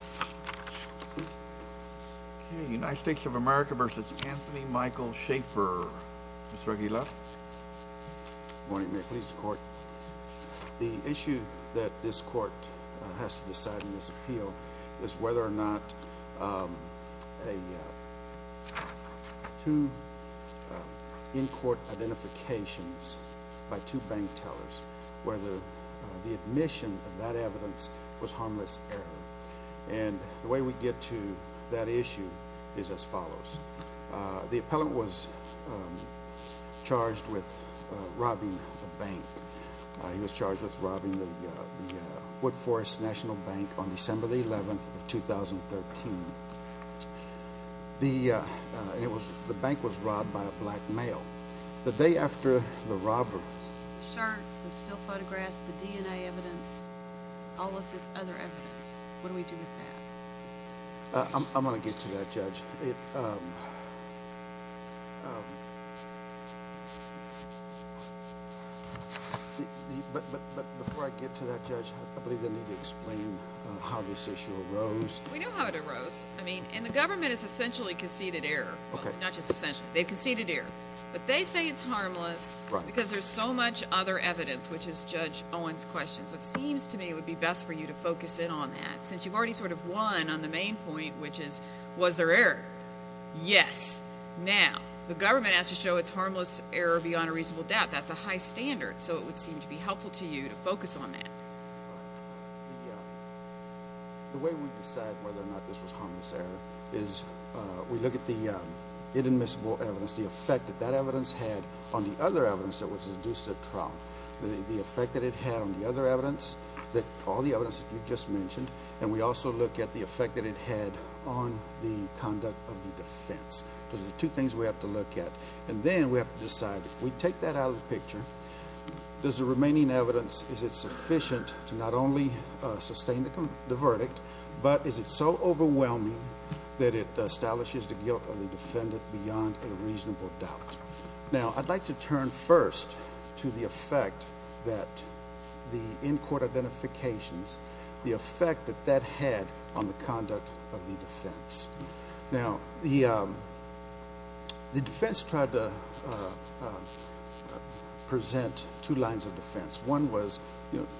The issue that this court has to decide in this appeal is whether or not two in-court The way we get to that issue is as follows. The appellant was charged with robbing the bank. He was charged with robbing the Wood Forest National Bank on December 11, 2013. The bank was robbed by a black male. The day after the robbery, the shirt, the still photographs, the DNA evidence, all of this other evidence, what do we do with that? I'm going to get to that, Judge. But before I get to that, Judge, I believe I need to explain how this issue arose. We know how it arose. And the government has essentially conceded error. Well, not just essentially. They've conceded error. But they say it's harmless because there's so much other evidence, which is Judge Owen's question. So it seems to me it would be best for you to focus in on that, since you've already sort of won on the main point, which is, was there error? Yes. Now, the government has to show it's harmless error beyond a reasonable doubt. That's a high standard, so it would seem to be helpful to you to focus on that. The way we decide whether or not this was harmless error is we look at the inadmissible evidence, the effect that that evidence had on the other evidence that was induced at trial, the effect that it had on the other evidence, all the evidence that you just mentioned, and we also look at the effect that it had on the conduct of the defense. Those are the two things we have to look at. And then we have to decide, if we take that out of the picture, does the remaining evidence, is it sufficient to not only sustain the verdict, but is it so overwhelming that it establishes the guilt of the defendant beyond a reasonable doubt? Now, I'd like to turn first to the effect that the in-court identifications, the effect that that had on the conduct of the defense. Now, the defense tried to present two lines of defense. One was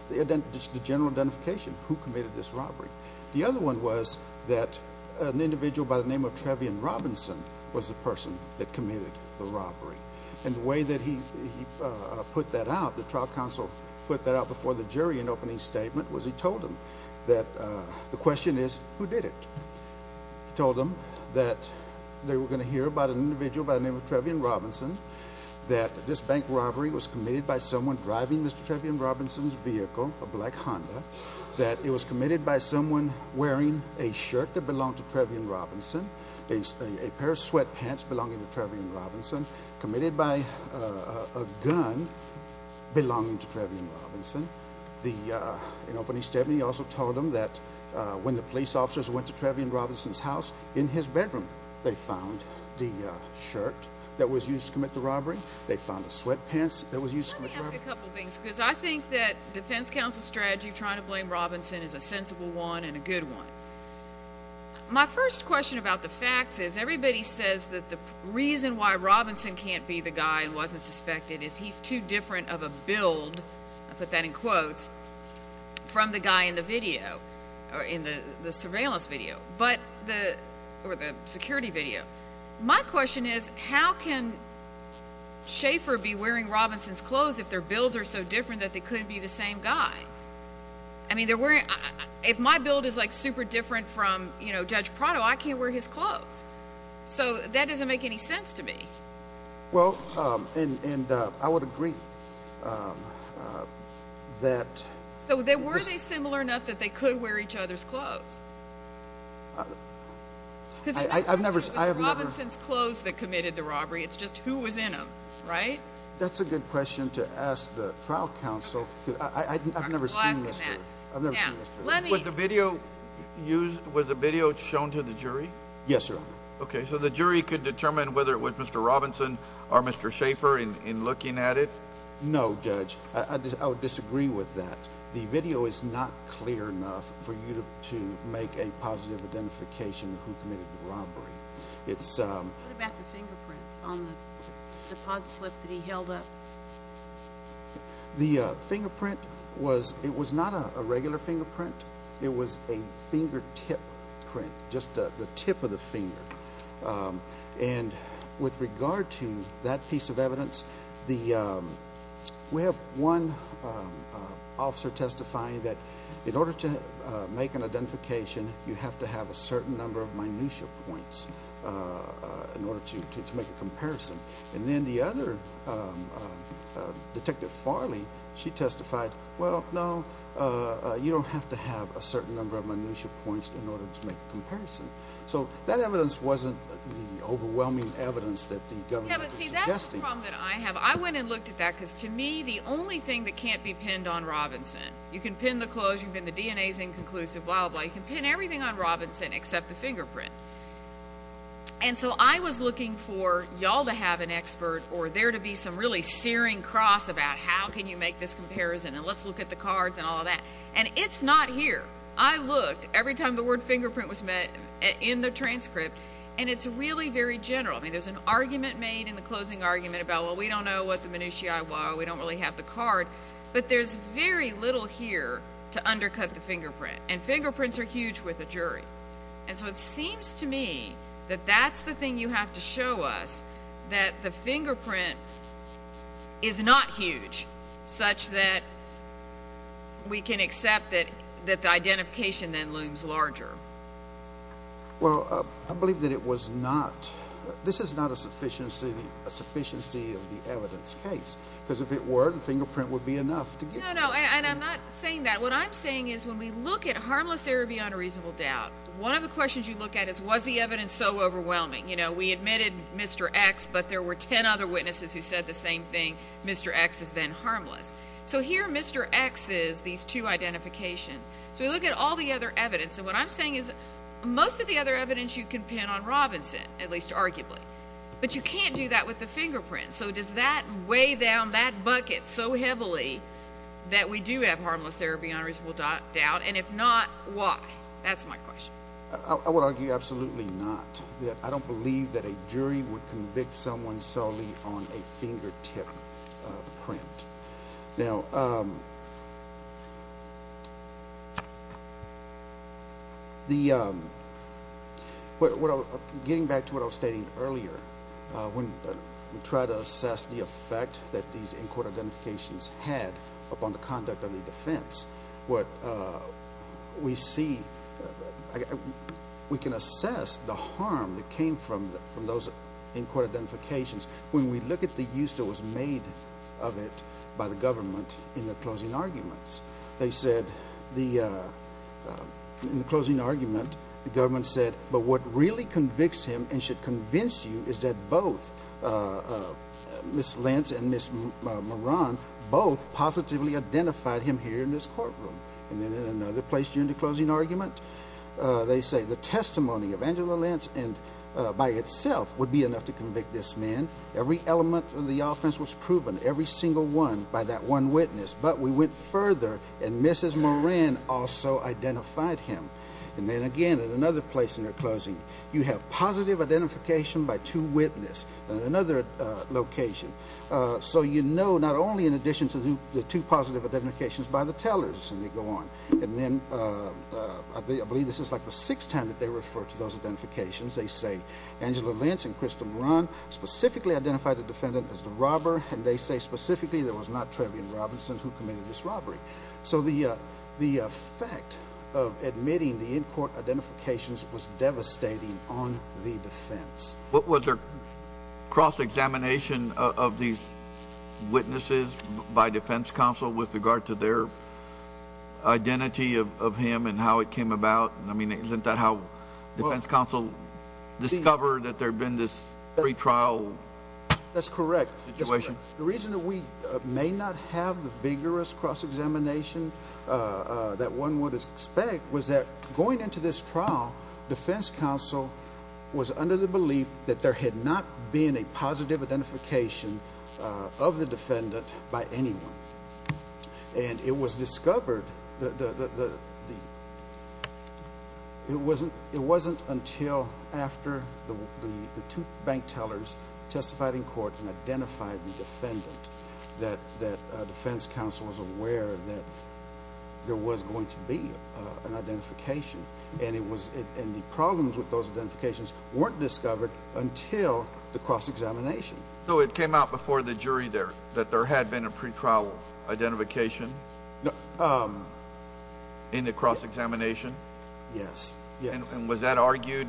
the general identification, who committed this robbery. The other one was that an individual by the name of Trevion Robinson was the person that committed the robbery. And the way that he put that out, the trial counsel put that out before the jury in opening statement, was he told them that the question is, who did it? He told them that they were going to hear about an individual by the name of Trevion Robinson, that this bank robbery was committed by someone driving Mr. Trevion Robinson's vehicle, a black Honda, that it was committed by someone wearing a shirt that belonged to Trevion Robinson, a pair of sweatpants belonging to Trevion Robinson, committed by a gun belonging to Trevion Robinson. In opening statement, he also told them that when the police officers went to Trevion Robinson's house in his bedroom, they found the shirt that was used to commit the robbery. They found the sweatpants that was used to commit the robbery. Let me ask a couple of things because I think that defense counsel's strategy of trying to blame Robinson is a sensible one and a good one. My first question about the facts is everybody says that the reason why Robinson can't be the guy and wasn't suspected is he's too different of a build. I put that in quotes from the guy in the video or in the surveillance video or the security video. My question is how can Schaefer be wearing Robinson's clothes if their builds are so different that they couldn't be the same guy? I mean if my build is like super different from Judge Prado, I can't wear his clothes. So that doesn't make any sense to me. Well, and I would agree that- So were they similar enough that they could wear each other's clothes? I've never- Because it's not just Robinson's clothes that committed the robbery. It's just who was in them, right? That's a good question to ask the trial counsel. I've never seen this. Was the video shown to the jury? Yes, Your Honor. Okay, so the jury could determine whether it was Mr. Robinson or Mr. Schaefer in looking at it? No, Judge. I would disagree with that. The video is not clear enough for you to make a positive identification of who committed the robbery. It's- What about the fingerprints on the deposit slip that he held up? The fingerprint was-it was not a regular fingerprint. It was a fingertip print, just the tip of the finger. And with regard to that piece of evidence, we have one officer testifying that in order to make an identification, you have to have a certain number of minutia points in order to make a comparison. And then the other, Detective Farley, she testified, well, no, you don't have to have a certain number of minutia points in order to make a comparison. So that evidence wasn't the overwhelming evidence that the government was suggesting. Yeah, but see, that's the problem that I have. I went and looked at that because, to me, the only thing that can't be pinned on Robinson, you can pin the clothes, you can pin the DNA's inconclusive, blah, blah, blah. You can pin everything on Robinson except the fingerprint. And so I was looking for y'all to have an expert or there to be some really searing cross about how can you make this comparison and let's look at the cards and all of that. And it's not here. I looked every time the word fingerprint was met in the transcript, and it's really very general. I mean, there's an argument made in the closing argument about, well, we don't know what the minutiae were, we don't really have the card, but there's very little here to undercut the fingerprint. And fingerprints are huge with a jury. And so it seems to me that that's the thing you have to show us, that the fingerprint is not huge, such that we can accept that the identification then looms larger. Well, I believe that it was not. This is not a sufficiency of the evidence case because if it were, the fingerprint would be enough to get you. No, no, and I'm not saying that. What I'm saying is when we look at harmless there or beyond a reasonable doubt, one of the questions you look at is was the evidence so overwhelming. You know, we admitted Mr. X, but there were 10 other witnesses who said the same thing, Mr. X is then harmless. So here Mr. X is, these two identifications. So we look at all the other evidence, and what I'm saying is most of the other evidence you can pin on Robinson, at least arguably, but you can't do that with the fingerprint. So does that weigh down that bucket so heavily that we do have harmless there or beyond a reasonable doubt? And if not, why? That's my question. I would argue absolutely not. I don't believe that a jury would convict someone solely on a fingertip print. Now, getting back to what I was stating earlier, when we try to assess the effect that these in-court identifications had upon the conduct of the defense, what we see, we can assess the harm that came from those in-court identifications. When we look at the use that was made of it by the government in the closing arguments, they said in the closing argument, the government said, but what really convicts him and should convince you is that both Ms. Lance and Ms. Moran both positively identified him here in this courtroom. And then in another place during the closing argument, they say the testimony of Angela Lance by itself would be enough to convict this man. Every element of the offense was proven, every single one, by that one witness. But we went further, and Mrs. Moran also identified him. And then again, in another place in her closing, you have positive identification by two witnesses in another location. So you know not only in addition to the two positive identifications by the tellers, and they go on. And then I believe this is like the sixth time that they refer to those identifications. They say Angela Lance and Crystal Moran specifically identified the defendant as the robber, and they say specifically there was not Trevian Robinson who committed this robbery. So the effect of admitting the in-court identifications was devastating on the defense. What was their cross-examination of these witnesses by defense counsel with regard to their identity of him and how it came about? I mean, isn't that how defense counsel discovered that there had been this pretrial situation? That's correct. The reason that we may not have the vigorous cross-examination that one would expect was that going into this trial, defense counsel was under the belief that there had not been a positive identification of the defendant by anyone. And it was discovered that it wasn't until after the two bank tellers testified in court and identified the defendant that defense counsel was aware that there was going to be an identification. And the problems with those identifications weren't discovered until the cross-examination. So it came out before the jury that there had been a pretrial identification in the cross-examination? Yes. And was that argued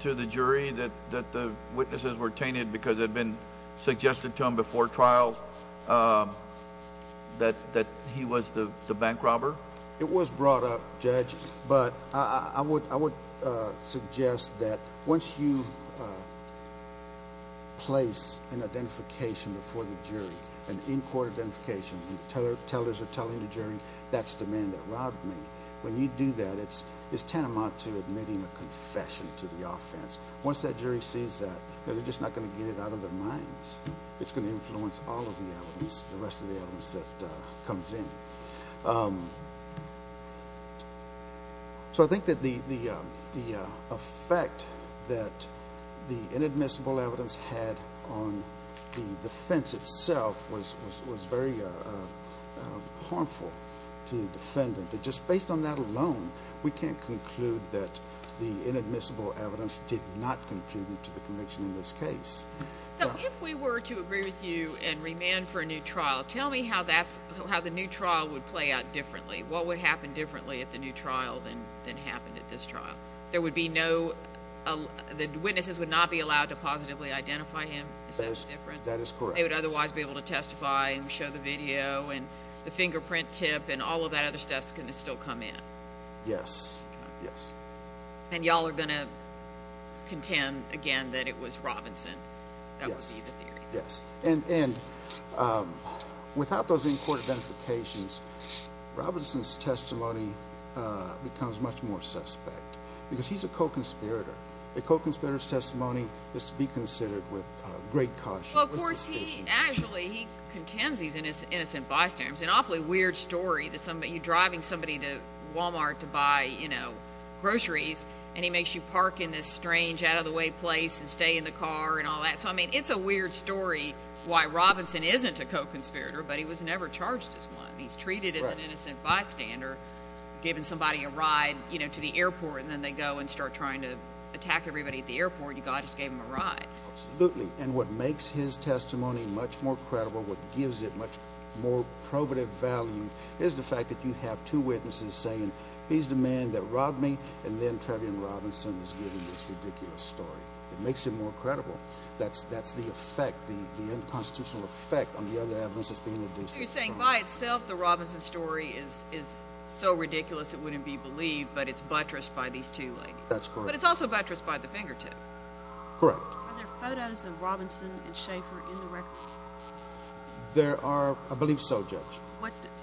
to the jury that the witnesses were tainted because it had been suggested to them before trial that he was the bank robber? It was brought up, Judge. But I would suggest that once you place an identification before the jury, an in-court identification, and the tellers are telling the jury that's the man that robbed me, when you do that, it's tantamount to admitting a confession to the offense. Once that jury sees that, they're just not going to get it out of their minds. It's going to influence all of the evidence, the rest of the evidence that comes in. So I think that the effect that the inadmissible evidence had on the defense itself was very harmful to the defendant. Just based on that alone, we can't conclude that the inadmissible evidence did not contribute to the conviction in this case. So if we were to agree with you and remand for a new trial, tell me how the new trial would play out differently. What would happen differently at the new trial than happened at this trial? The witnesses would not be allowed to positively identify him? That is correct. They would otherwise be able to testify and show the video and the fingerprint tip and all of that other stuff is going to still come in? Yes. And you all are going to contend again that it was Robinson? Yes. And without those in-court identifications, Robinson's testimony becomes much more suspect because he's a co-conspirator. A co-conspirator's testimony is to be considered with great caution. Well, of course, he actually contends he's an innocent bystander. It's an awfully weird story that you're driving somebody to Walmart to buy groceries and he makes you park in this strange out-of-the-way place and stay in the car and all that. So, I mean, it's a weird story why Robinson isn't a co-conspirator, but he was never charged as one. He's treated as an innocent bystander, giving somebody a ride to the airport, and then they go and start trying to attack everybody at the airport. God just gave them a ride. Absolutely. And what makes his testimony much more credible, what gives it much more probative value, is the fact that you have two witnesses saying, he's the man that robbed me and then Trevian Robinson is giving this ridiculous story. It makes it more credible. That's the effect, the unconstitutional effect on the other evidence that's being produced. So you're saying by itself the Robinson story is so ridiculous it wouldn't be believed, but it's buttressed by these two ladies. That's correct. But it's also buttressed by the fingertip. Correct. Are there photos of Robinson and Schaefer in the record? There are, I believe so, Judge.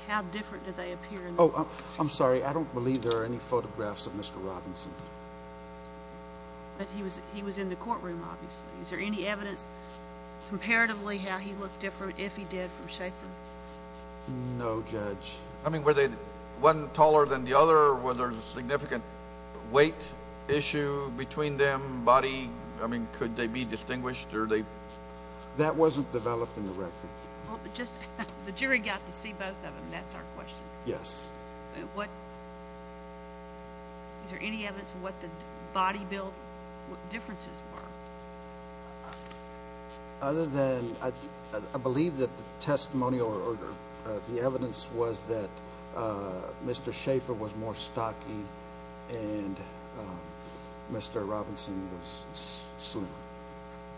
How different do they appear? Oh, I'm sorry, I don't believe there are any photographs of Mr. Robinson. But he was in the courtroom, obviously. Is there any evidence comparatively how he looked different if he did from Schaefer? No, Judge. I mean, were they one taller than the other? Was there a significant weight issue between them, body? I mean, could they be distinguished? That wasn't developed in the record. The jury got to see both of them. That's our question. Yes. Is there any evidence of what the body build differences were? Other than I believe that the testimonial or the evidence was that Mr. Schaefer was more stocky and Mr. Robinson was slim.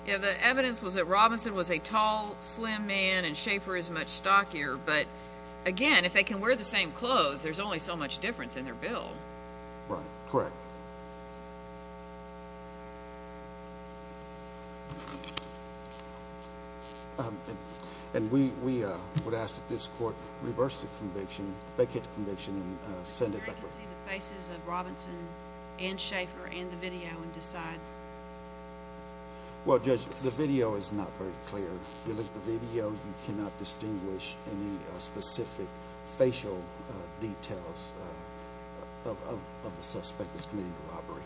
Yeah, the evidence was that Robinson was a tall, slim man and Schaefer is much stockier. But, again, if they can wear the same clothes, there's only so much difference in their build. Right. Correct. And we would ask that this court reverse the conviction, vacate the conviction and send it back. The jury can see the faces of Robinson and Schaefer in the video and decide. Well, Judge, the video is not very clear. If you look at the video, you cannot distinguish any specific facial details of the suspect that's committing the robbery.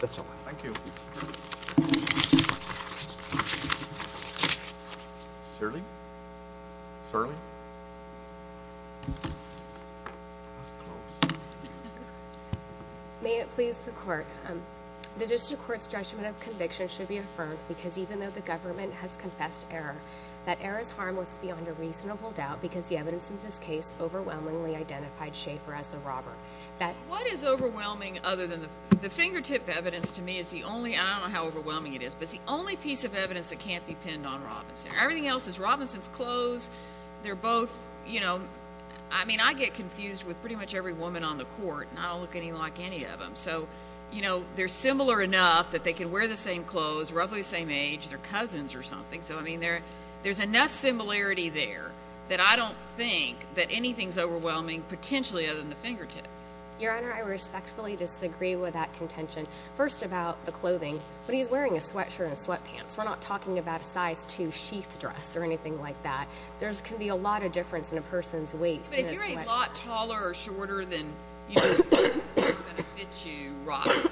That's all. Thank you. Shirley? Shirley? May it please the court. The district court's judgment of conviction should be affirmed because even though the government has confessed error, that error is harmless beyond a reasonable doubt because the evidence in this case overwhelmingly identified Schaefer as the robber. What is overwhelming other than the fingertip evidence to me is the only, I don't know how overwhelming it is, but it's the only piece of evidence that can't be pinned on Robinson. Everything else is Robinson's clothes. They're both, you know, I mean, I get confused with pretty much every woman on the court and I don't look any like any of them. So, you know, they're similar enough that they can wear the same clothes, roughly the same age, they're cousins or something. So, I mean, there's enough similarity there that I don't think that anything's overwhelming, potentially, other than the fingertip. Your Honor, I respectfully disagree with that contention. First about the clothing, but he's wearing a sweatshirt and sweatpants. We're not talking about a size 2 sheath dress or anything like that. There can be a lot of difference in a person's weight in a sweatshirt. But if you're a lot taller or shorter than, you know, the size, it's not going to fit you right.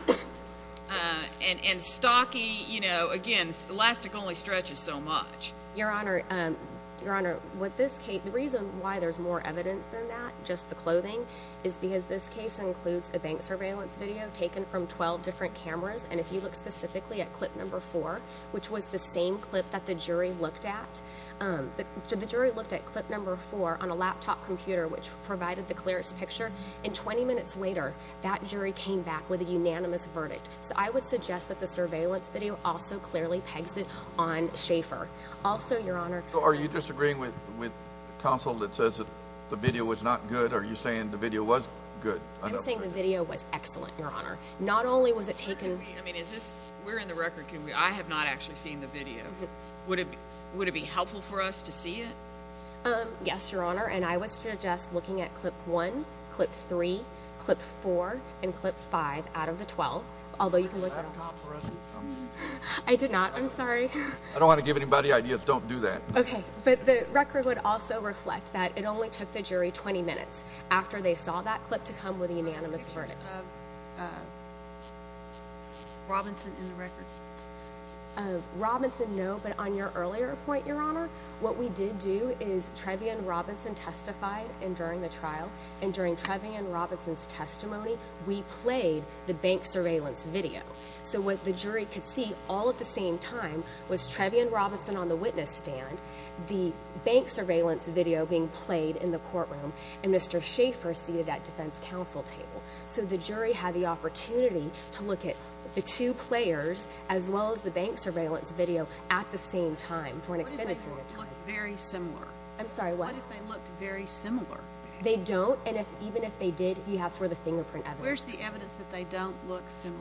And stocky, you know, again, elastic only stretches so much. Your Honor, with this case, the reason why there's more evidence than that, just the clothing, is because this case includes a bank surveillance video taken from 12 different cameras. And if you look specifically at clip number 4, which was the same clip that the jury looked at, the jury looked at clip number 4 on a laptop computer, which provided the clearest picture, and 20 minutes later, that jury came back with a unanimous verdict. So I would suggest that the surveillance video also clearly pegs it on Schaefer. Also, Your Honor— So are you disagreeing with counsel that says that the video was not good? Are you saying the video was good? I'm saying the video was excellent, Your Honor. Not only was it taken— I mean, is this—we're in the record. I have not actually seen the video. Would it be helpful for us to see it? Yes, Your Honor, and I would suggest looking at clip 1, clip 3, clip 4, and clip 5 out of the 12, although you can look at— I did not press it. I did not. I'm sorry. I don't want to give anybody ideas. Don't do that. Okay, but the record would also reflect that it only took the jury 20 minutes after they saw that clip to come with a unanimous verdict. Do you have Robinson in the record? Robinson, no, but on your earlier point, Your Honor, what we did do is Trevian Robinson testified during the trial, and during Trevian Robinson's testimony, we played the bank surveillance video. So what the jury could see all at the same time was Trevian Robinson on the witness stand, the bank surveillance video being played in the courtroom, and Mr. Schaffer seated at defense counsel table. So the jury had the opportunity to look at the two players as well as the bank surveillance video at the same time for an extended period. What if they looked very similar? I'm sorry, what? What if they looked very similar? They don't, and even if they did, that's where the fingerprint evidence is. Where's the evidence that they don't look similar?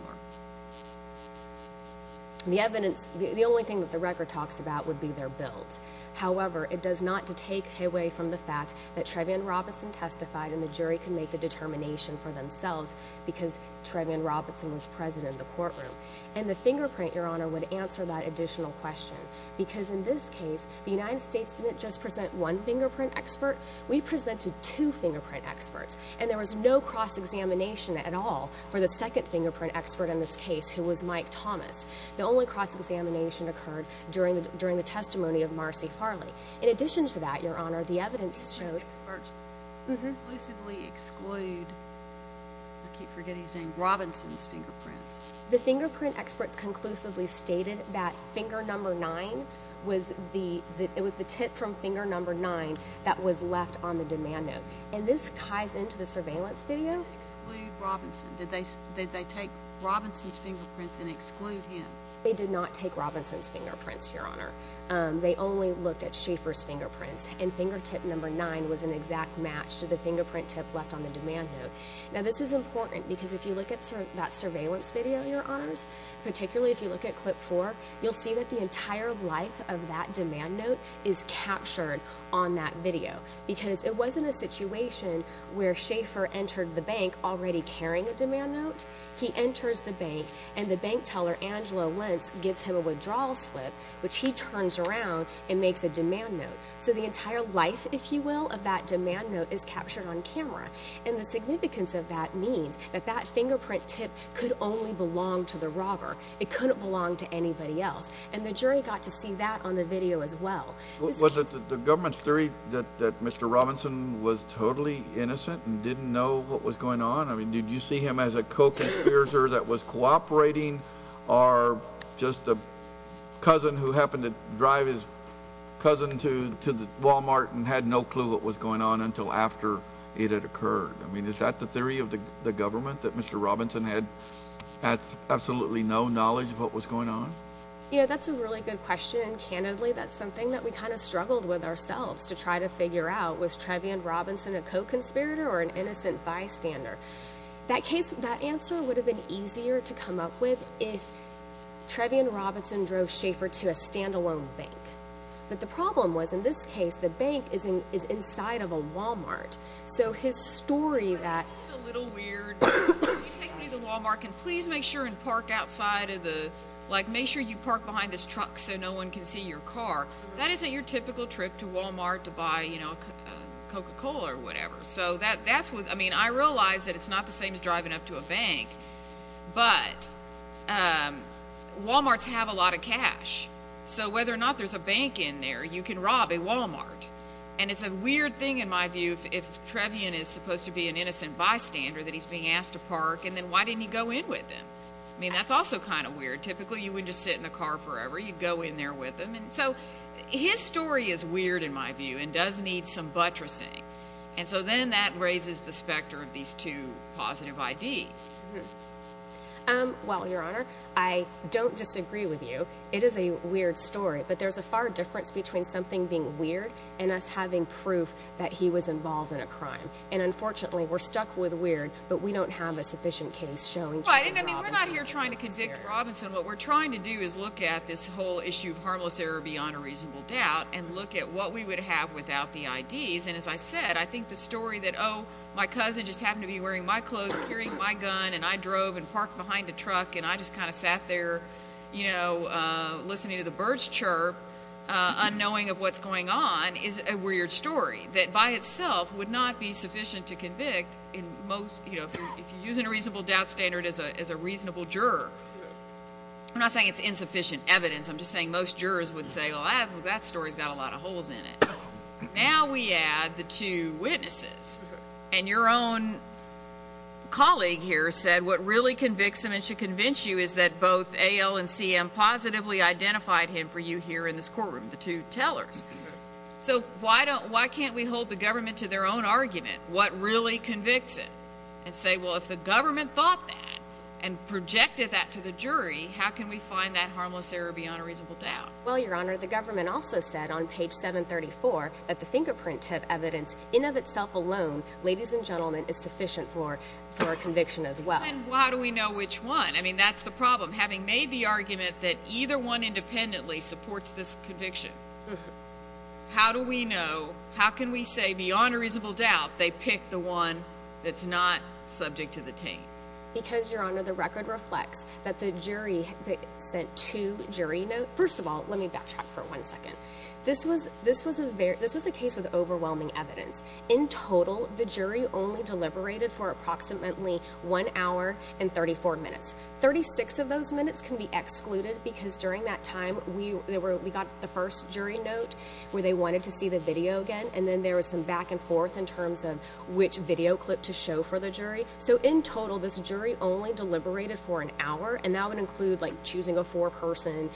The evidence—the only thing that the record talks about would be their bills. However, it does not take away from the fact that Trevian Robinson testified, and the jury can make the determination for themselves because Trevian Robinson was present in the courtroom. And the fingerprint, Your Honor, would answer that additional question because in this case the United States didn't just present one fingerprint expert. We presented two fingerprint experts, and there was no cross-examination at all for the second fingerprint expert in this case, who was Mike Thomas. The only cross-examination occurred during the testimony of Marcy Farley. In addition to that, Your Honor, the evidence showed— Experts conclusively exclude, I keep forgetting his name, Robinson's fingerprints. The fingerprint experts conclusively stated that finger number nine was the— it was the tip from finger number nine that was left on the demand note. And this ties into the surveillance video. They didn't exclude Robinson. Did they take Robinson's fingerprints and exclude him? They did not take Robinson's fingerprints, Your Honor. They only looked at Schaeffer's fingerprints, and fingertip number nine was an exact match to the fingerprint tip left on the demand note. Now this is important because if you look at that surveillance video, Your Honors, particularly if you look at clip four, you'll see that the entire life of that demand note is captured on that video because it wasn't a situation where Schaeffer entered the bank already carrying a demand note. He enters the bank, and the bank teller, Angelo Lentz, gives him a withdrawal slip, which he turns around and makes a demand note. So the entire life, if you will, of that demand note is captured on camera. And the significance of that means that that fingerprint tip could only belong to the robber. It couldn't belong to anybody else. And the jury got to see that on the video as well. Was it the government's theory that Mr. Robinson was totally innocent and didn't know what was going on? I mean, did you see him as a co-conspirator that was cooperating or just a cousin who happened to drive his cousin to Walmart and had no clue what was going on until after it had occurred? I mean, is that the theory of the government, that Mr. Robinson had absolutely no knowledge of what was going on? Yeah, that's a really good question, and candidly, that's something that we kind of struggled with ourselves to try to figure out. Was Trevian Robinson a co-conspirator or an innocent bystander? That case, that answer would have been easier to come up with if Trevian Robinson drove Schaefer to a standalone bank. But the problem was, in this case, the bank is inside of a Walmart. So his story that— This is a little weird. You take me to Walmart, and please make sure and park outside of the— like, make sure you park behind this truck so no one can see your car. That isn't your typical trip to Walmart to buy, you know, Coca-Cola or whatever. I mean, I realize that it's not the same as driving up to a bank, but Walmarts have a lot of cash. So whether or not there's a bank in there, you can rob a Walmart. And it's a weird thing, in my view, if Trevian is supposed to be an innocent bystander that he's being asked to park, and then why didn't he go in with them? I mean, that's also kind of weird. Typically, you wouldn't just sit in the car forever. You'd go in there with them. So his story is weird, in my view, and does need some buttressing. And so then that raises the specter of these two positive IDs. Well, Your Honor, I don't disagree with you. It is a weird story. But there's a far difference between something being weird and us having proof that he was involved in a crime. And, unfortunately, we're stuck with weird, but we don't have a sufficient case showing Trevian Robinson's— Well, I mean, we're not here trying to convict Robinson. What we're trying to do is look at this whole issue of harmless error beyond a reasonable doubt and look at what we would have without the IDs. And, as I said, I think the story that, oh, my cousin just happened to be wearing my clothes, carrying my gun, and I drove and parked behind a truck, and I just kind of sat there listening to the birds chirp, unknowing of what's going on, is a weird story that, by itself, would not be sufficient to convict if you're using a reasonable doubt standard as a reasonable juror. I'm not saying it's insufficient evidence. I'm just saying most jurors would say, well, that story's got a lot of holes in it. Now we add the two witnesses. And your own colleague here said what really convicts him and should convince you is that both A.L. and C.M. positively identified him for you here in this courtroom, the two tellers. So why can't we hold the government to their own argument? What really convicts it? And say, well, if the government thought that and projected that to the jury, how can we find that harmless error beyond a reasonable doubt? Well, Your Honor, the government also said on page 734 that the fingerprint tip evidence in of itself alone, ladies and gentlemen, is sufficient for a conviction as well. And how do we know which one? I mean, that's the problem. Having made the argument that either one independently supports this conviction, how do we know, how can we say beyond a reasonable doubt they picked the one that's not subject to the team? Because, Your Honor, the record reflects that the jury sent two jury notes. First of all, let me backtrack for one second. This was a case with overwhelming evidence. In total, the jury only deliberated for approximately one hour and 34 minutes. Thirty-six of those minutes can be excluded because during that time, we got the first jury note where they wanted to see the video again, and then there was some back and forth in terms of which video clip to show for the jury. So in total, this jury only deliberated for an hour, and that would include, like, choosing a foreperson,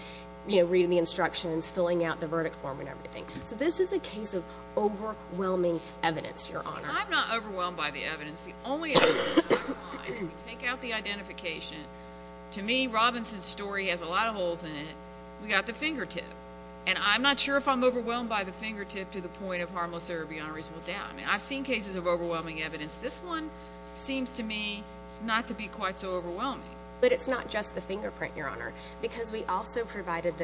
you know, reading the instructions, filling out the verdict form and everything. So this is a case of overwhelming evidence, Your Honor. I'm not overwhelmed by the evidence. The only evidence is mine. Take out the identification. To me, Robinson's story has a lot of holes in it. We got the fingertip. And I'm not sure if I'm overwhelmed by the fingertip to the point of harmless or beyond a reasonable doubt. I mean, I've seen cases of overwhelming evidence. This one seems to me not to be quite so overwhelming. But it's not just the fingerprint, Your Honor, because we also provided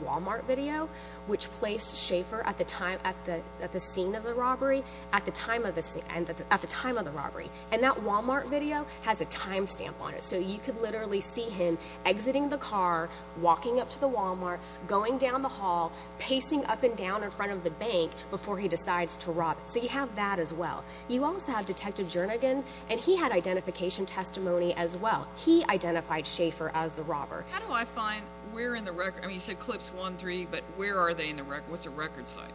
Wal-Mart video, which placed Schaefer at the scene of the robbery, at the time of the robbery. And that Wal-Mart video has a time stamp on it, so you could literally see him exiting the car, walking up to the Wal-Mart, going down the hall, pacing up and down in front of the bank before he decides to rob it. So you have that as well. You also have Detective Jernigan, and he had identification testimony as well. He identified Schaefer as the robber. How do I find where in the record? I mean, you said Clips 1-3, but where are they in the record? What's the record site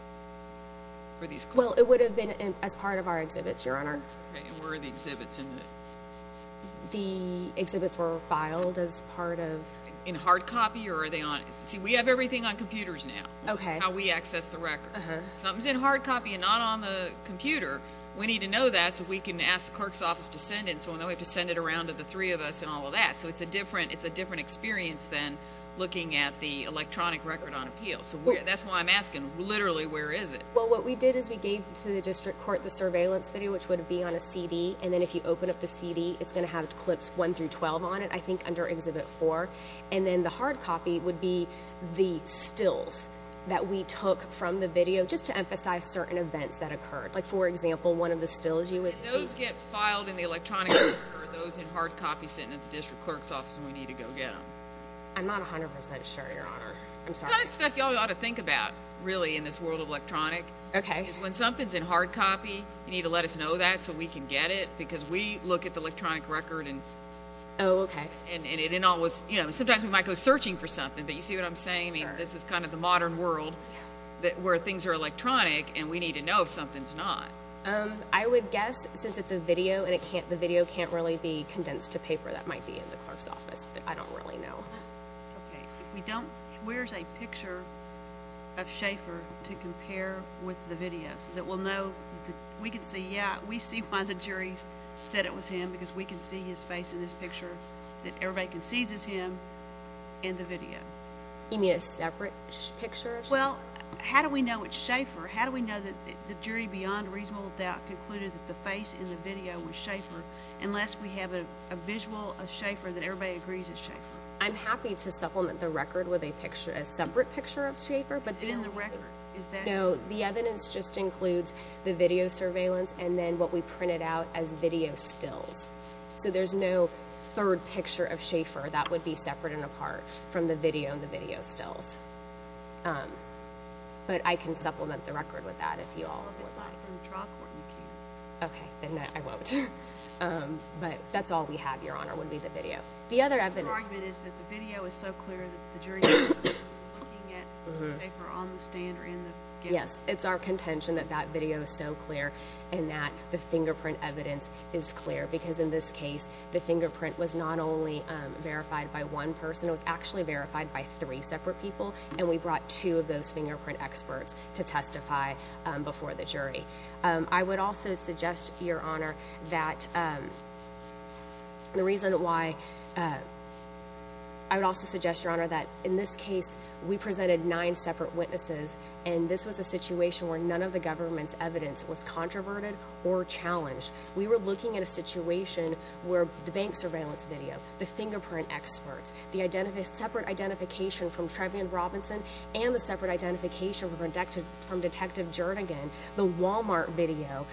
for these clips? Well, it would have been as part of our exhibits, Your Honor. Okay, and where are the exhibits in it? The exhibits were filed as part of— In hard copy, or are they on— See, we have everything on computers now, how we access the records. Something's in hard copy and not on the computer. We need to know that so we can ask the clerk's office to send it, so we don't have to send it around to the three of us and all of that. So it's a different experience than looking at the electronic record on appeal. So that's why I'm asking, literally, where is it? Well, what we did is we gave to the district court the surveillance video, which would be on a CD, and then if you open up the CD, it's going to have Clips 1-12 on it, I think under Exhibit 4. And then the hard copy would be the stills that we took from the video, just to emphasize certain events that occurred. Like, for example, one of the stills you would see— And those get filed in the electronic record, or are those in hard copy sitting at the district clerk's office and we need to go get them? I'm not 100% sure, Your Honor. I'm sorry. It's the kind of stuff y'all ought to think about, really, in this world of electronic. Okay. Because when something's in hard copy, you need to let us know that so we can get it, because we look at the electronic record and— Oh, okay. Sometimes we might go searching for something, but you see what I'm saying? This is kind of the modern world where things are electronic and we need to know if something's not. I would guess, since it's a video and the video can't really be condensed to paper, that might be in the clerk's office, but I don't really know. Okay. Where's a picture of Schaefer to compare with the video so that we'll know— We can see, yeah, we see why the jury said it was him, because we can see his face in this picture that everybody concedes is him in the video. You mean a separate picture of Schaefer? Well, how do we know it's Schaefer? How do we know that the jury, beyond reasonable doubt, concluded that the face in the video was Schaefer unless we have a visual of Schaefer that everybody agrees is Schaefer? I'm happy to supplement the record with a separate picture of Schaefer. In the record? Is that— And then what we print it out as video stills. So there's no third picture of Schaefer. That would be separate and apart from the video and the video stills. But I can supplement the record with that if you all would like. Well, if it's not from the trial court, you can. Okay, then I won't. But that's all we have, Your Honor, would be the video. The other evidence— Your argument is that the video is so clear that the jury's not looking at the paper on the stand or in the gift. Yes, it's our contention that that video is so clear and that the fingerprint evidence is clear because in this case, the fingerprint was not only verified by one person. It was actually verified by three separate people, and we brought two of those fingerprint experts to testify before the jury. I would also suggest, Your Honor, that the reason why— I would also suggest, Your Honor, that in this case, we presented nine separate witnesses, and this was a situation where none of the government's evidence was controverted or challenged. We were looking at a situation where the bank surveillance video, the fingerprint experts, the separate identification from Trevian Robinson and the separate identification from Detective Jernigan, the Walmart video,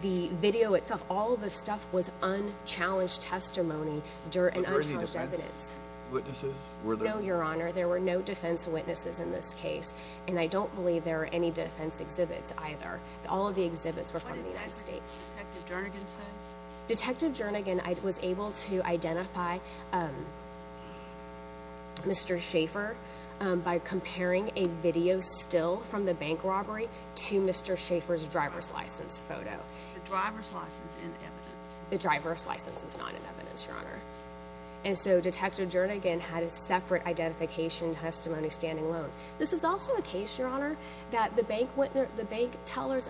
the video itself, all of this stuff was unchallenged testimony and unchallenged evidence. Were there any defense witnesses? No, Your Honor, there were no defense witnesses in this case, and I don't believe there were any defense exhibits either. All of the exhibits were from the United States. What exactly did Detective Jernigan say? Detective Jernigan was able to identify Mr. Schaefer by comparing a video still from the bank robbery to Mr. Schaefer's driver's license photo. Is the driver's license in evidence? The driver's license is not in evidence, Your Honor. And so Detective Jernigan had a separate identification testimony standing alone. This is also a case, Your Honor, that the bank teller's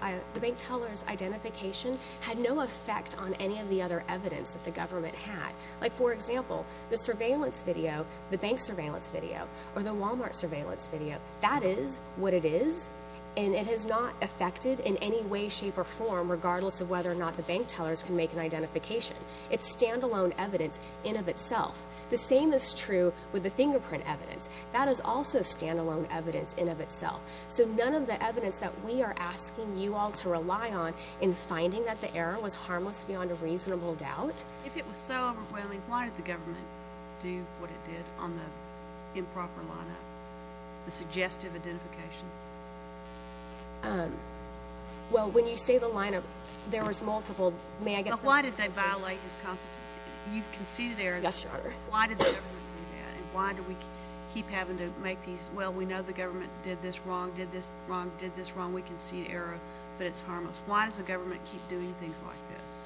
identification had no effect on any of the other evidence that the government had. Like, for example, the surveillance video, the bank surveillance video, or the Walmart surveillance video, that is what it is, and it has not affected in any way, shape, or form, regardless of whether or not the bank tellers can make an identification. It's stand-alone evidence in of itself. The same is true with the fingerprint evidence. That is also stand-alone evidence in of itself. So none of the evidence that we are asking you all to rely on in finding that the error was harmless beyond a reasonable doubt. If it was so overwhelming, why did the government do what it did on the improper lineup, the suggestive identification? Well, when you say the lineup, there was multiple. Well, why did they violate his constitution? You've conceded error. Yes, Your Honor. Why did the government do that, and why do we keep having to make these, well, we know the government did this wrong, did this wrong, did this wrong, we concede error, but it's harmless. Why does the government keep doing things like this?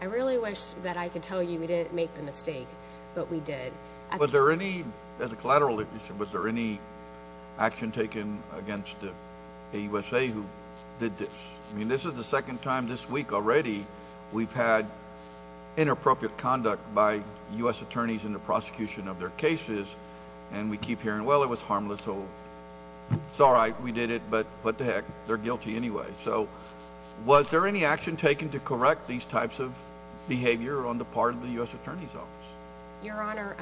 I really wish that I could tell you we didn't make the mistake, but we did. Was there any, as a collateral issue, was there any action taken against the USA who did this? I mean, this is the second time this week already we've had inappropriate conduct by U.S. attorneys in the prosecution of their cases, and we keep hearing, well, it was harmless, so it's all right, we did it, but what the heck, they're guilty anyway. So was there any action taken to correct these types of behavior on the part of the U.S. Attorney's Office? Your Honor,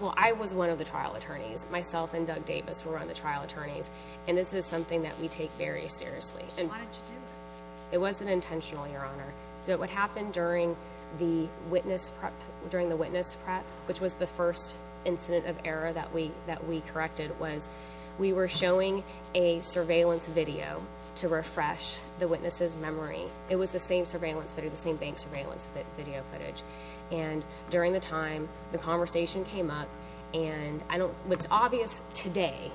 well, I was one of the trial attorneys. Myself and Doug Davis were on the trial attorneys, and this is something that we take very seriously. Why did you do it? It wasn't intentional, Your Honor. So what happened during the witness prep, which was the first incident of error that we corrected, was we were showing a surveillance video to refresh the witness's memory. It was the same surveillance video, the same bank surveillance video footage, and during the time, the conversation came up, and what's obvious today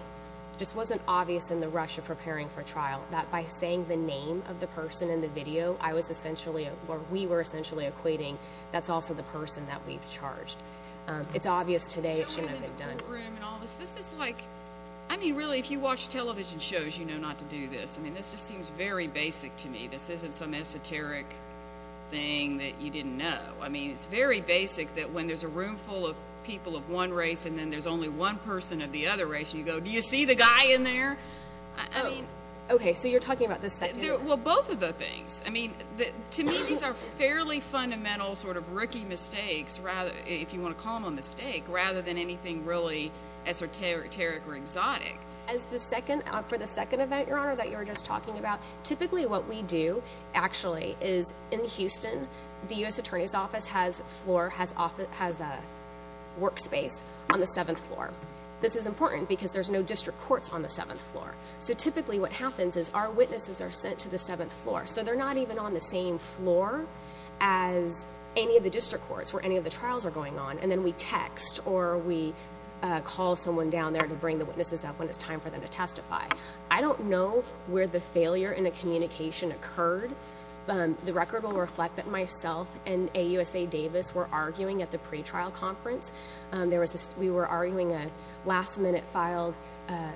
just wasn't obvious in the rush of preparing for trial, that by saying the name of the person in the video, I was essentially, or we were essentially equating, that's also the person that we've charged. It's obvious today it shouldn't have been done. This is like, I mean, really, if you watch television shows, you know not to do this. I mean, this just seems very basic to me. This isn't some esoteric thing that you didn't know. I mean, it's very basic that when there's a room full of people of one race and then there's only one person of the other race, you go, do you see the guy in there? I mean. Oh, okay, so you're talking about the second. Well, both of the things. I mean, to me, these are fairly fundamental sort of rookie mistakes, if you want to call them a mistake, rather than anything really esoteric or exotic. As the second, for the second event, Your Honor, that you were just talking about, typically what we do, actually, is in Houston, the U.S. Attorney's Office has a floor, has a workspace on the seventh floor. This is important because there's no district courts on the seventh floor. So typically what happens is our witnesses are sent to the seventh floor, so they're not even on the same floor as any of the district courts where any of the trials are going on, and then we text or we call someone down there to bring the witnesses up when it's time for them to testify. I don't know where the failure in the communication occurred. The record will reflect that myself and AUSA Davis were arguing at the pretrial conference. We were arguing a last-minute filed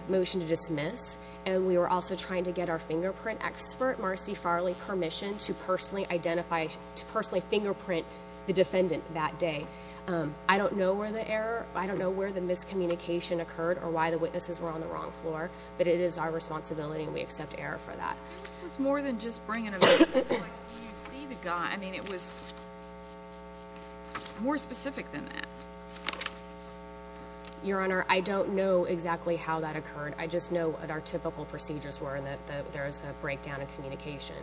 motion to dismiss, and we were also trying to get our fingerprint expert, Marcy Farley, permission to personally identify, to personally fingerprint the defendant that day. I don't know where the error, I don't know where the miscommunication occurred or why the witnesses were on the wrong floor, but it is our responsibility and we accept error for that. This was more than just bringing a witness. When you see the guy, I mean, it was more specific than that. Your Honor, I don't know exactly how that occurred. I just know what our typical procedures were and that there is a breakdown in communication.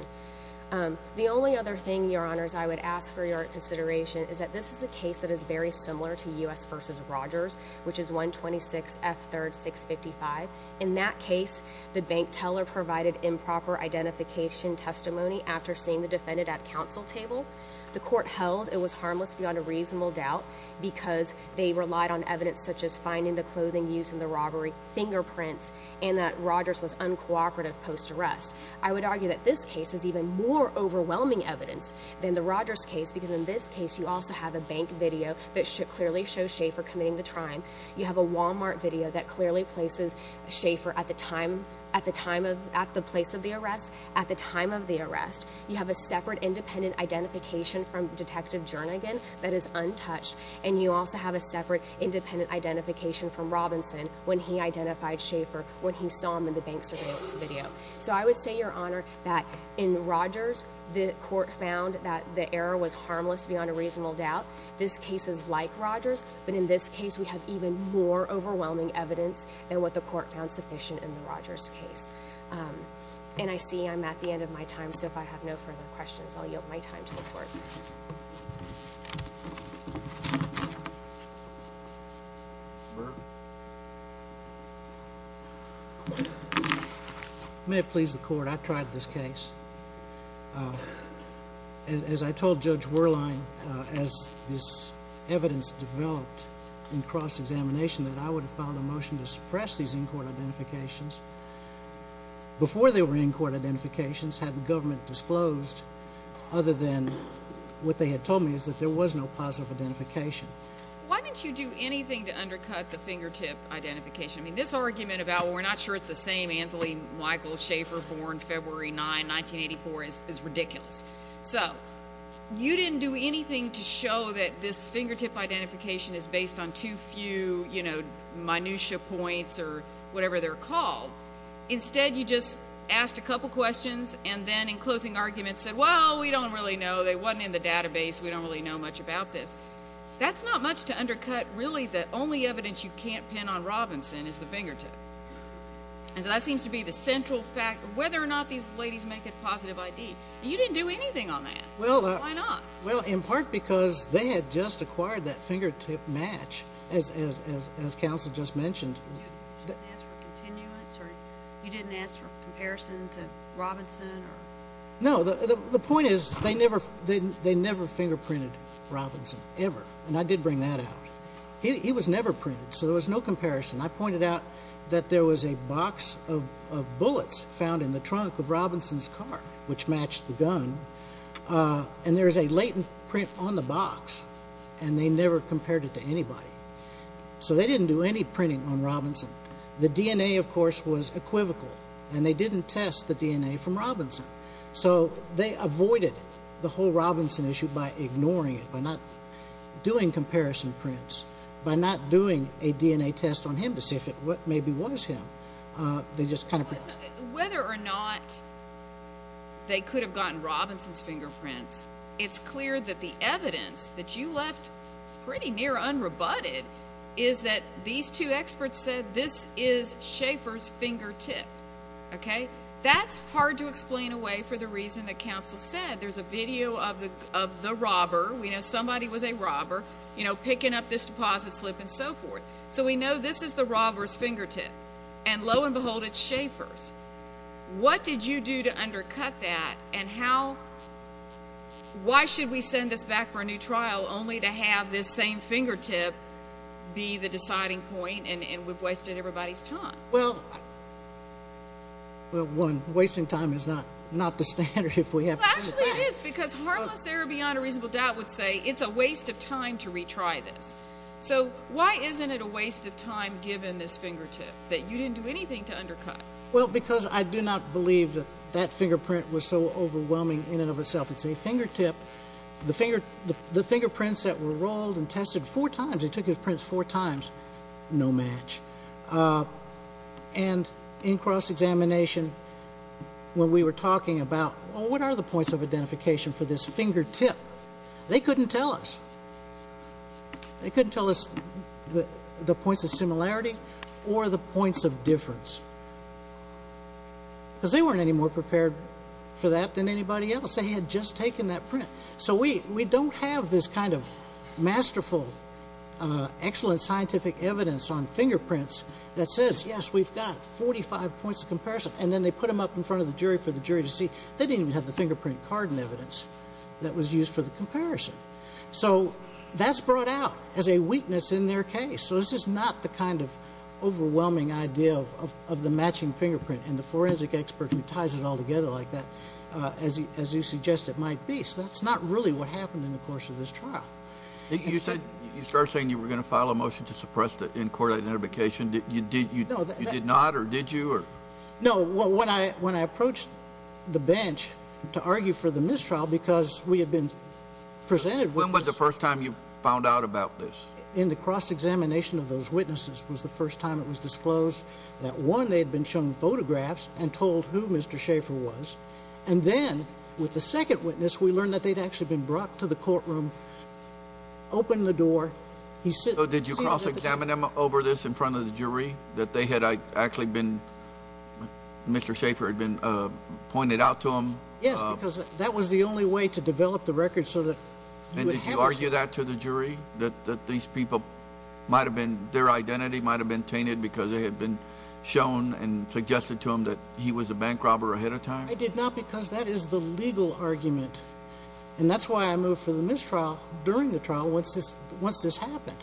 The only other thing, Your Honors, I would ask for your consideration is that this is a case that is very similar to U.S. v. Rogers, which is 126 F. 3rd 655. In that case, the bank teller provided improper identification testimony after seeing the defendant at counsel table. The court held it was harmless beyond a reasonable doubt because they relied on evidence such as finding the clothing used in the robbery, fingerprints, and that Rogers was uncooperative post-arrest. I would argue that this case is even more overwhelming evidence than the Rogers case because in this case you also have a bank video that clearly shows Schaefer committing the crime. You have a Walmart video that clearly places Schaefer at the place of the arrest at the time of the arrest. You have a separate independent identification from Detective Jernigan that is untouched, and you also have a separate independent identification from Robinson when he identified Schaefer when he saw him in the bank surveillance video. So I would say, Your Honor, that in Rogers, the court found that the error was harmless beyond a reasonable doubt. This case is like Rogers, but in this case we have even more overwhelming evidence than what the court found sufficient in the Rogers case. And I see I'm at the end of my time, so if I have no further questions, I'll yield my time to the court. Your Honor, if it may please the court, I tried this case. As I told Judge Wehrlein, as this evidence developed in cross-examination, that I would have filed a motion to suppress these in-court identifications before they were in-court identifications had the government disclosed other than what they had told me is that there was no positive identification. Why didn't you do anything to undercut the fingertip identification? I mean, this argument about we're not sure it's the same Anthony Michael Schaefer, born February 9, 1984, is ridiculous. So you didn't do anything to show that this fingertip identification is based on too few, you know, minutia points or whatever they're called. Instead, you just asked a couple questions and then in closing arguments said, Well, we don't really know. They weren't in the database. We don't really know much about this. That's not much to undercut really the only evidence you can't pin on Robinson is the fingertip. And so that seems to be the central fact of whether or not these ladies make a positive ID. You didn't do anything on that. Why not? Well, in part because they had just acquired that fingertip match, as counsel just mentioned. You didn't ask for continuance or you didn't ask for comparison to Robinson? No. The point is they never they never fingerprinted Robinson ever. And I did bring that out. He was never printed. So there was no comparison. I pointed out that there was a box of bullets found in the trunk of Robinson's car, which matched the gun. And there is a latent print on the box and they never compared it to anybody. So they didn't do any printing on Robinson. The DNA, of course, was equivocal and they didn't test the DNA from Robinson. So they avoided the whole Robinson issue by ignoring it, by not doing comparison prints, by not doing a DNA test on him to see if it maybe was him. Whether or not they could have gotten Robinson's fingerprints, it's clear that the evidence that you left pretty near unrebutted is that these two experts said this is Schaefer's fingertip. OK, that's hard to explain away for the reason that counsel said. There's a video of the of the robber. We know somebody was a robber, you know, picking up this deposit slip and so forth. So we know this is the robber's fingertip. And lo and behold, it's Schaefer's. What did you do to undercut that and how? Why should we send this back for a new trial only to have this same fingertip be the deciding point? And we've wasted everybody's time. Well, well, one, wasting time is not not the standard if we have. Actually, it is because harmless error beyond a reasonable doubt would say it's a waste of time to retry this. So why isn't it a waste of time given this fingertip that you didn't do anything to undercut? Well, because I do not believe that that fingerprint was so overwhelming in and of itself. It's a fingertip, the finger, the fingerprints that were rolled and tested four times. It took his prints four times. No match. And in cross examination, when we were talking about what are the points of identification for this fingertip? They couldn't tell us. They couldn't tell us the points of similarity or the points of difference. Because they weren't any more prepared for that than anybody else. They had just taken that print. So we don't have this kind of masterful, excellent scientific evidence on fingerprints that says, yes, we've got 45 points of comparison. And then they put them up in front of the jury for the jury to see. They didn't even have the fingerprint card and evidence that was used for the comparison. So that's brought out as a weakness in their case. So this is not the kind of overwhelming idea of the matching fingerprint and the forensic expert who ties it all together like that, as you suggest it might be. So that's not really what happened in the course of this trial. You started saying you were going to file a motion to suppress the in-court identification. You did not, or did you? No. When I approached the bench to argue for the mistrial because we had been presented with this. When was the first time you found out about this? In the cross-examination of those witnesses was the first time it was disclosed that, one, they had been shown photographs and told who Mr. Schaefer was. And then with the second witness, we learned that they'd actually been brought to the courtroom, opened the door. So did you cross-examine them over this in front of the jury, that they had actually been, Mr. Schaefer had been pointed out to them? Yes, because that was the only way to develop the record so that you would have a... And did you argue that to the jury, that these people might have been, their identity might have been tainted because they had been shown and suggested to them that he was a bank robber ahead of time? I did not because that is the legal argument. And that's why I moved for the mistrial during the trial once this happened.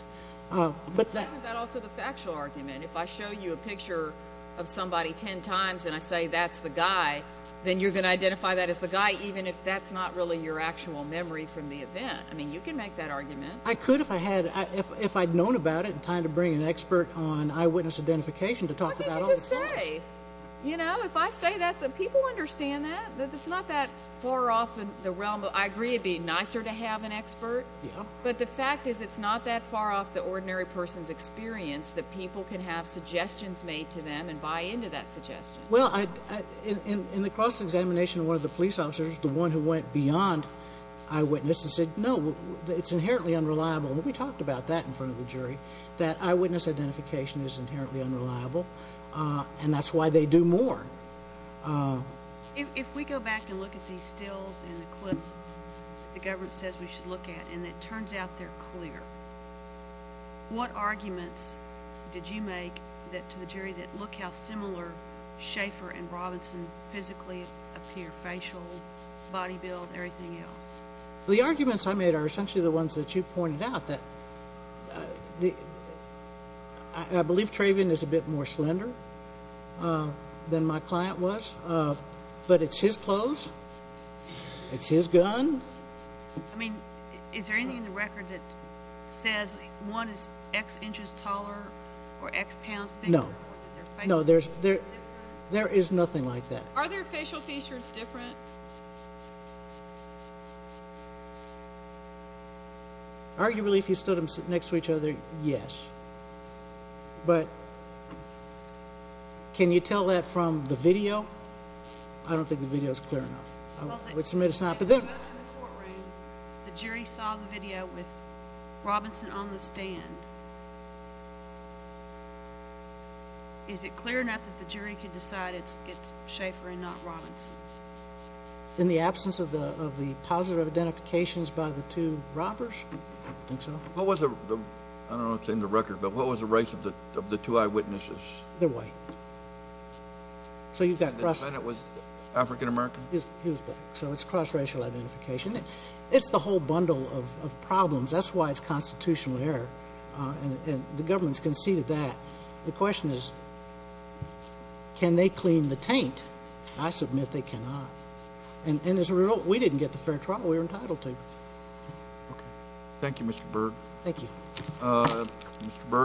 But that... Isn't that also the factual argument? If I show you a picture of somebody 10 times and I say, that's the guy, then you're going to identify that as the guy even if that's not really your actual memory from the event. I mean, you can make that argument. I could if I had, if I'd known about it in time to bring an expert on eyewitness identification to talk about all the facts. What did you just say? You know, if I say that, people understand that. It's not that far off in the realm of... I agree it'd be nicer to have an expert. Yeah. But the fact is it's not that far off the ordinary person's experience that people can have suggestions made to them and buy into that suggestion. Well, in the cross-examination, one of the police officers, the one who went beyond eyewitness and said, no, it's inherently unreliable. And we talked about that in front of the jury, that eyewitness identification is inherently unreliable. And that's why they do more. If we go back and look at these stills and the clips the government says we should look at and it turns out they're clear, what arguments did you make to the jury that, look how similar Schaeffer and Robinson physically appear, facial, body build, everything else? The arguments I made are essentially the ones that you pointed out, that I believe Traven is a bit more slender than my client was, but it's his clothes, it's his gun. I mean, is there anything in the record that says one is X inches taller or X pounds bigger? No. No, there is nothing like that. Are their facial features different? Are they different? Arguably, if you stood them next to each other, yes. But can you tell that from the video? I don't think the video is clear enough. I would submit it's not. But then in the courtroom, the jury saw the video with Robinson on the stand. Is it clear enough that the jury could decide it's Schaeffer and not Robinson? In the absence of the positive identifications by the two robbers, I think so. What was the, I don't know what's in the record, but what was the race of the two eyewitnesses? They're white. So you've got cross- The defendant was African American? He was black, so it's cross-racial identification. It's the whole bundle of problems, that's why it's constitutional error. And the government's conceded that. The question is, can they clean the taint? I submit they cannot. And as a result, we didn't get the fair trial we were entitled to. Okay. Thank you, Mr. Berg. Thank you.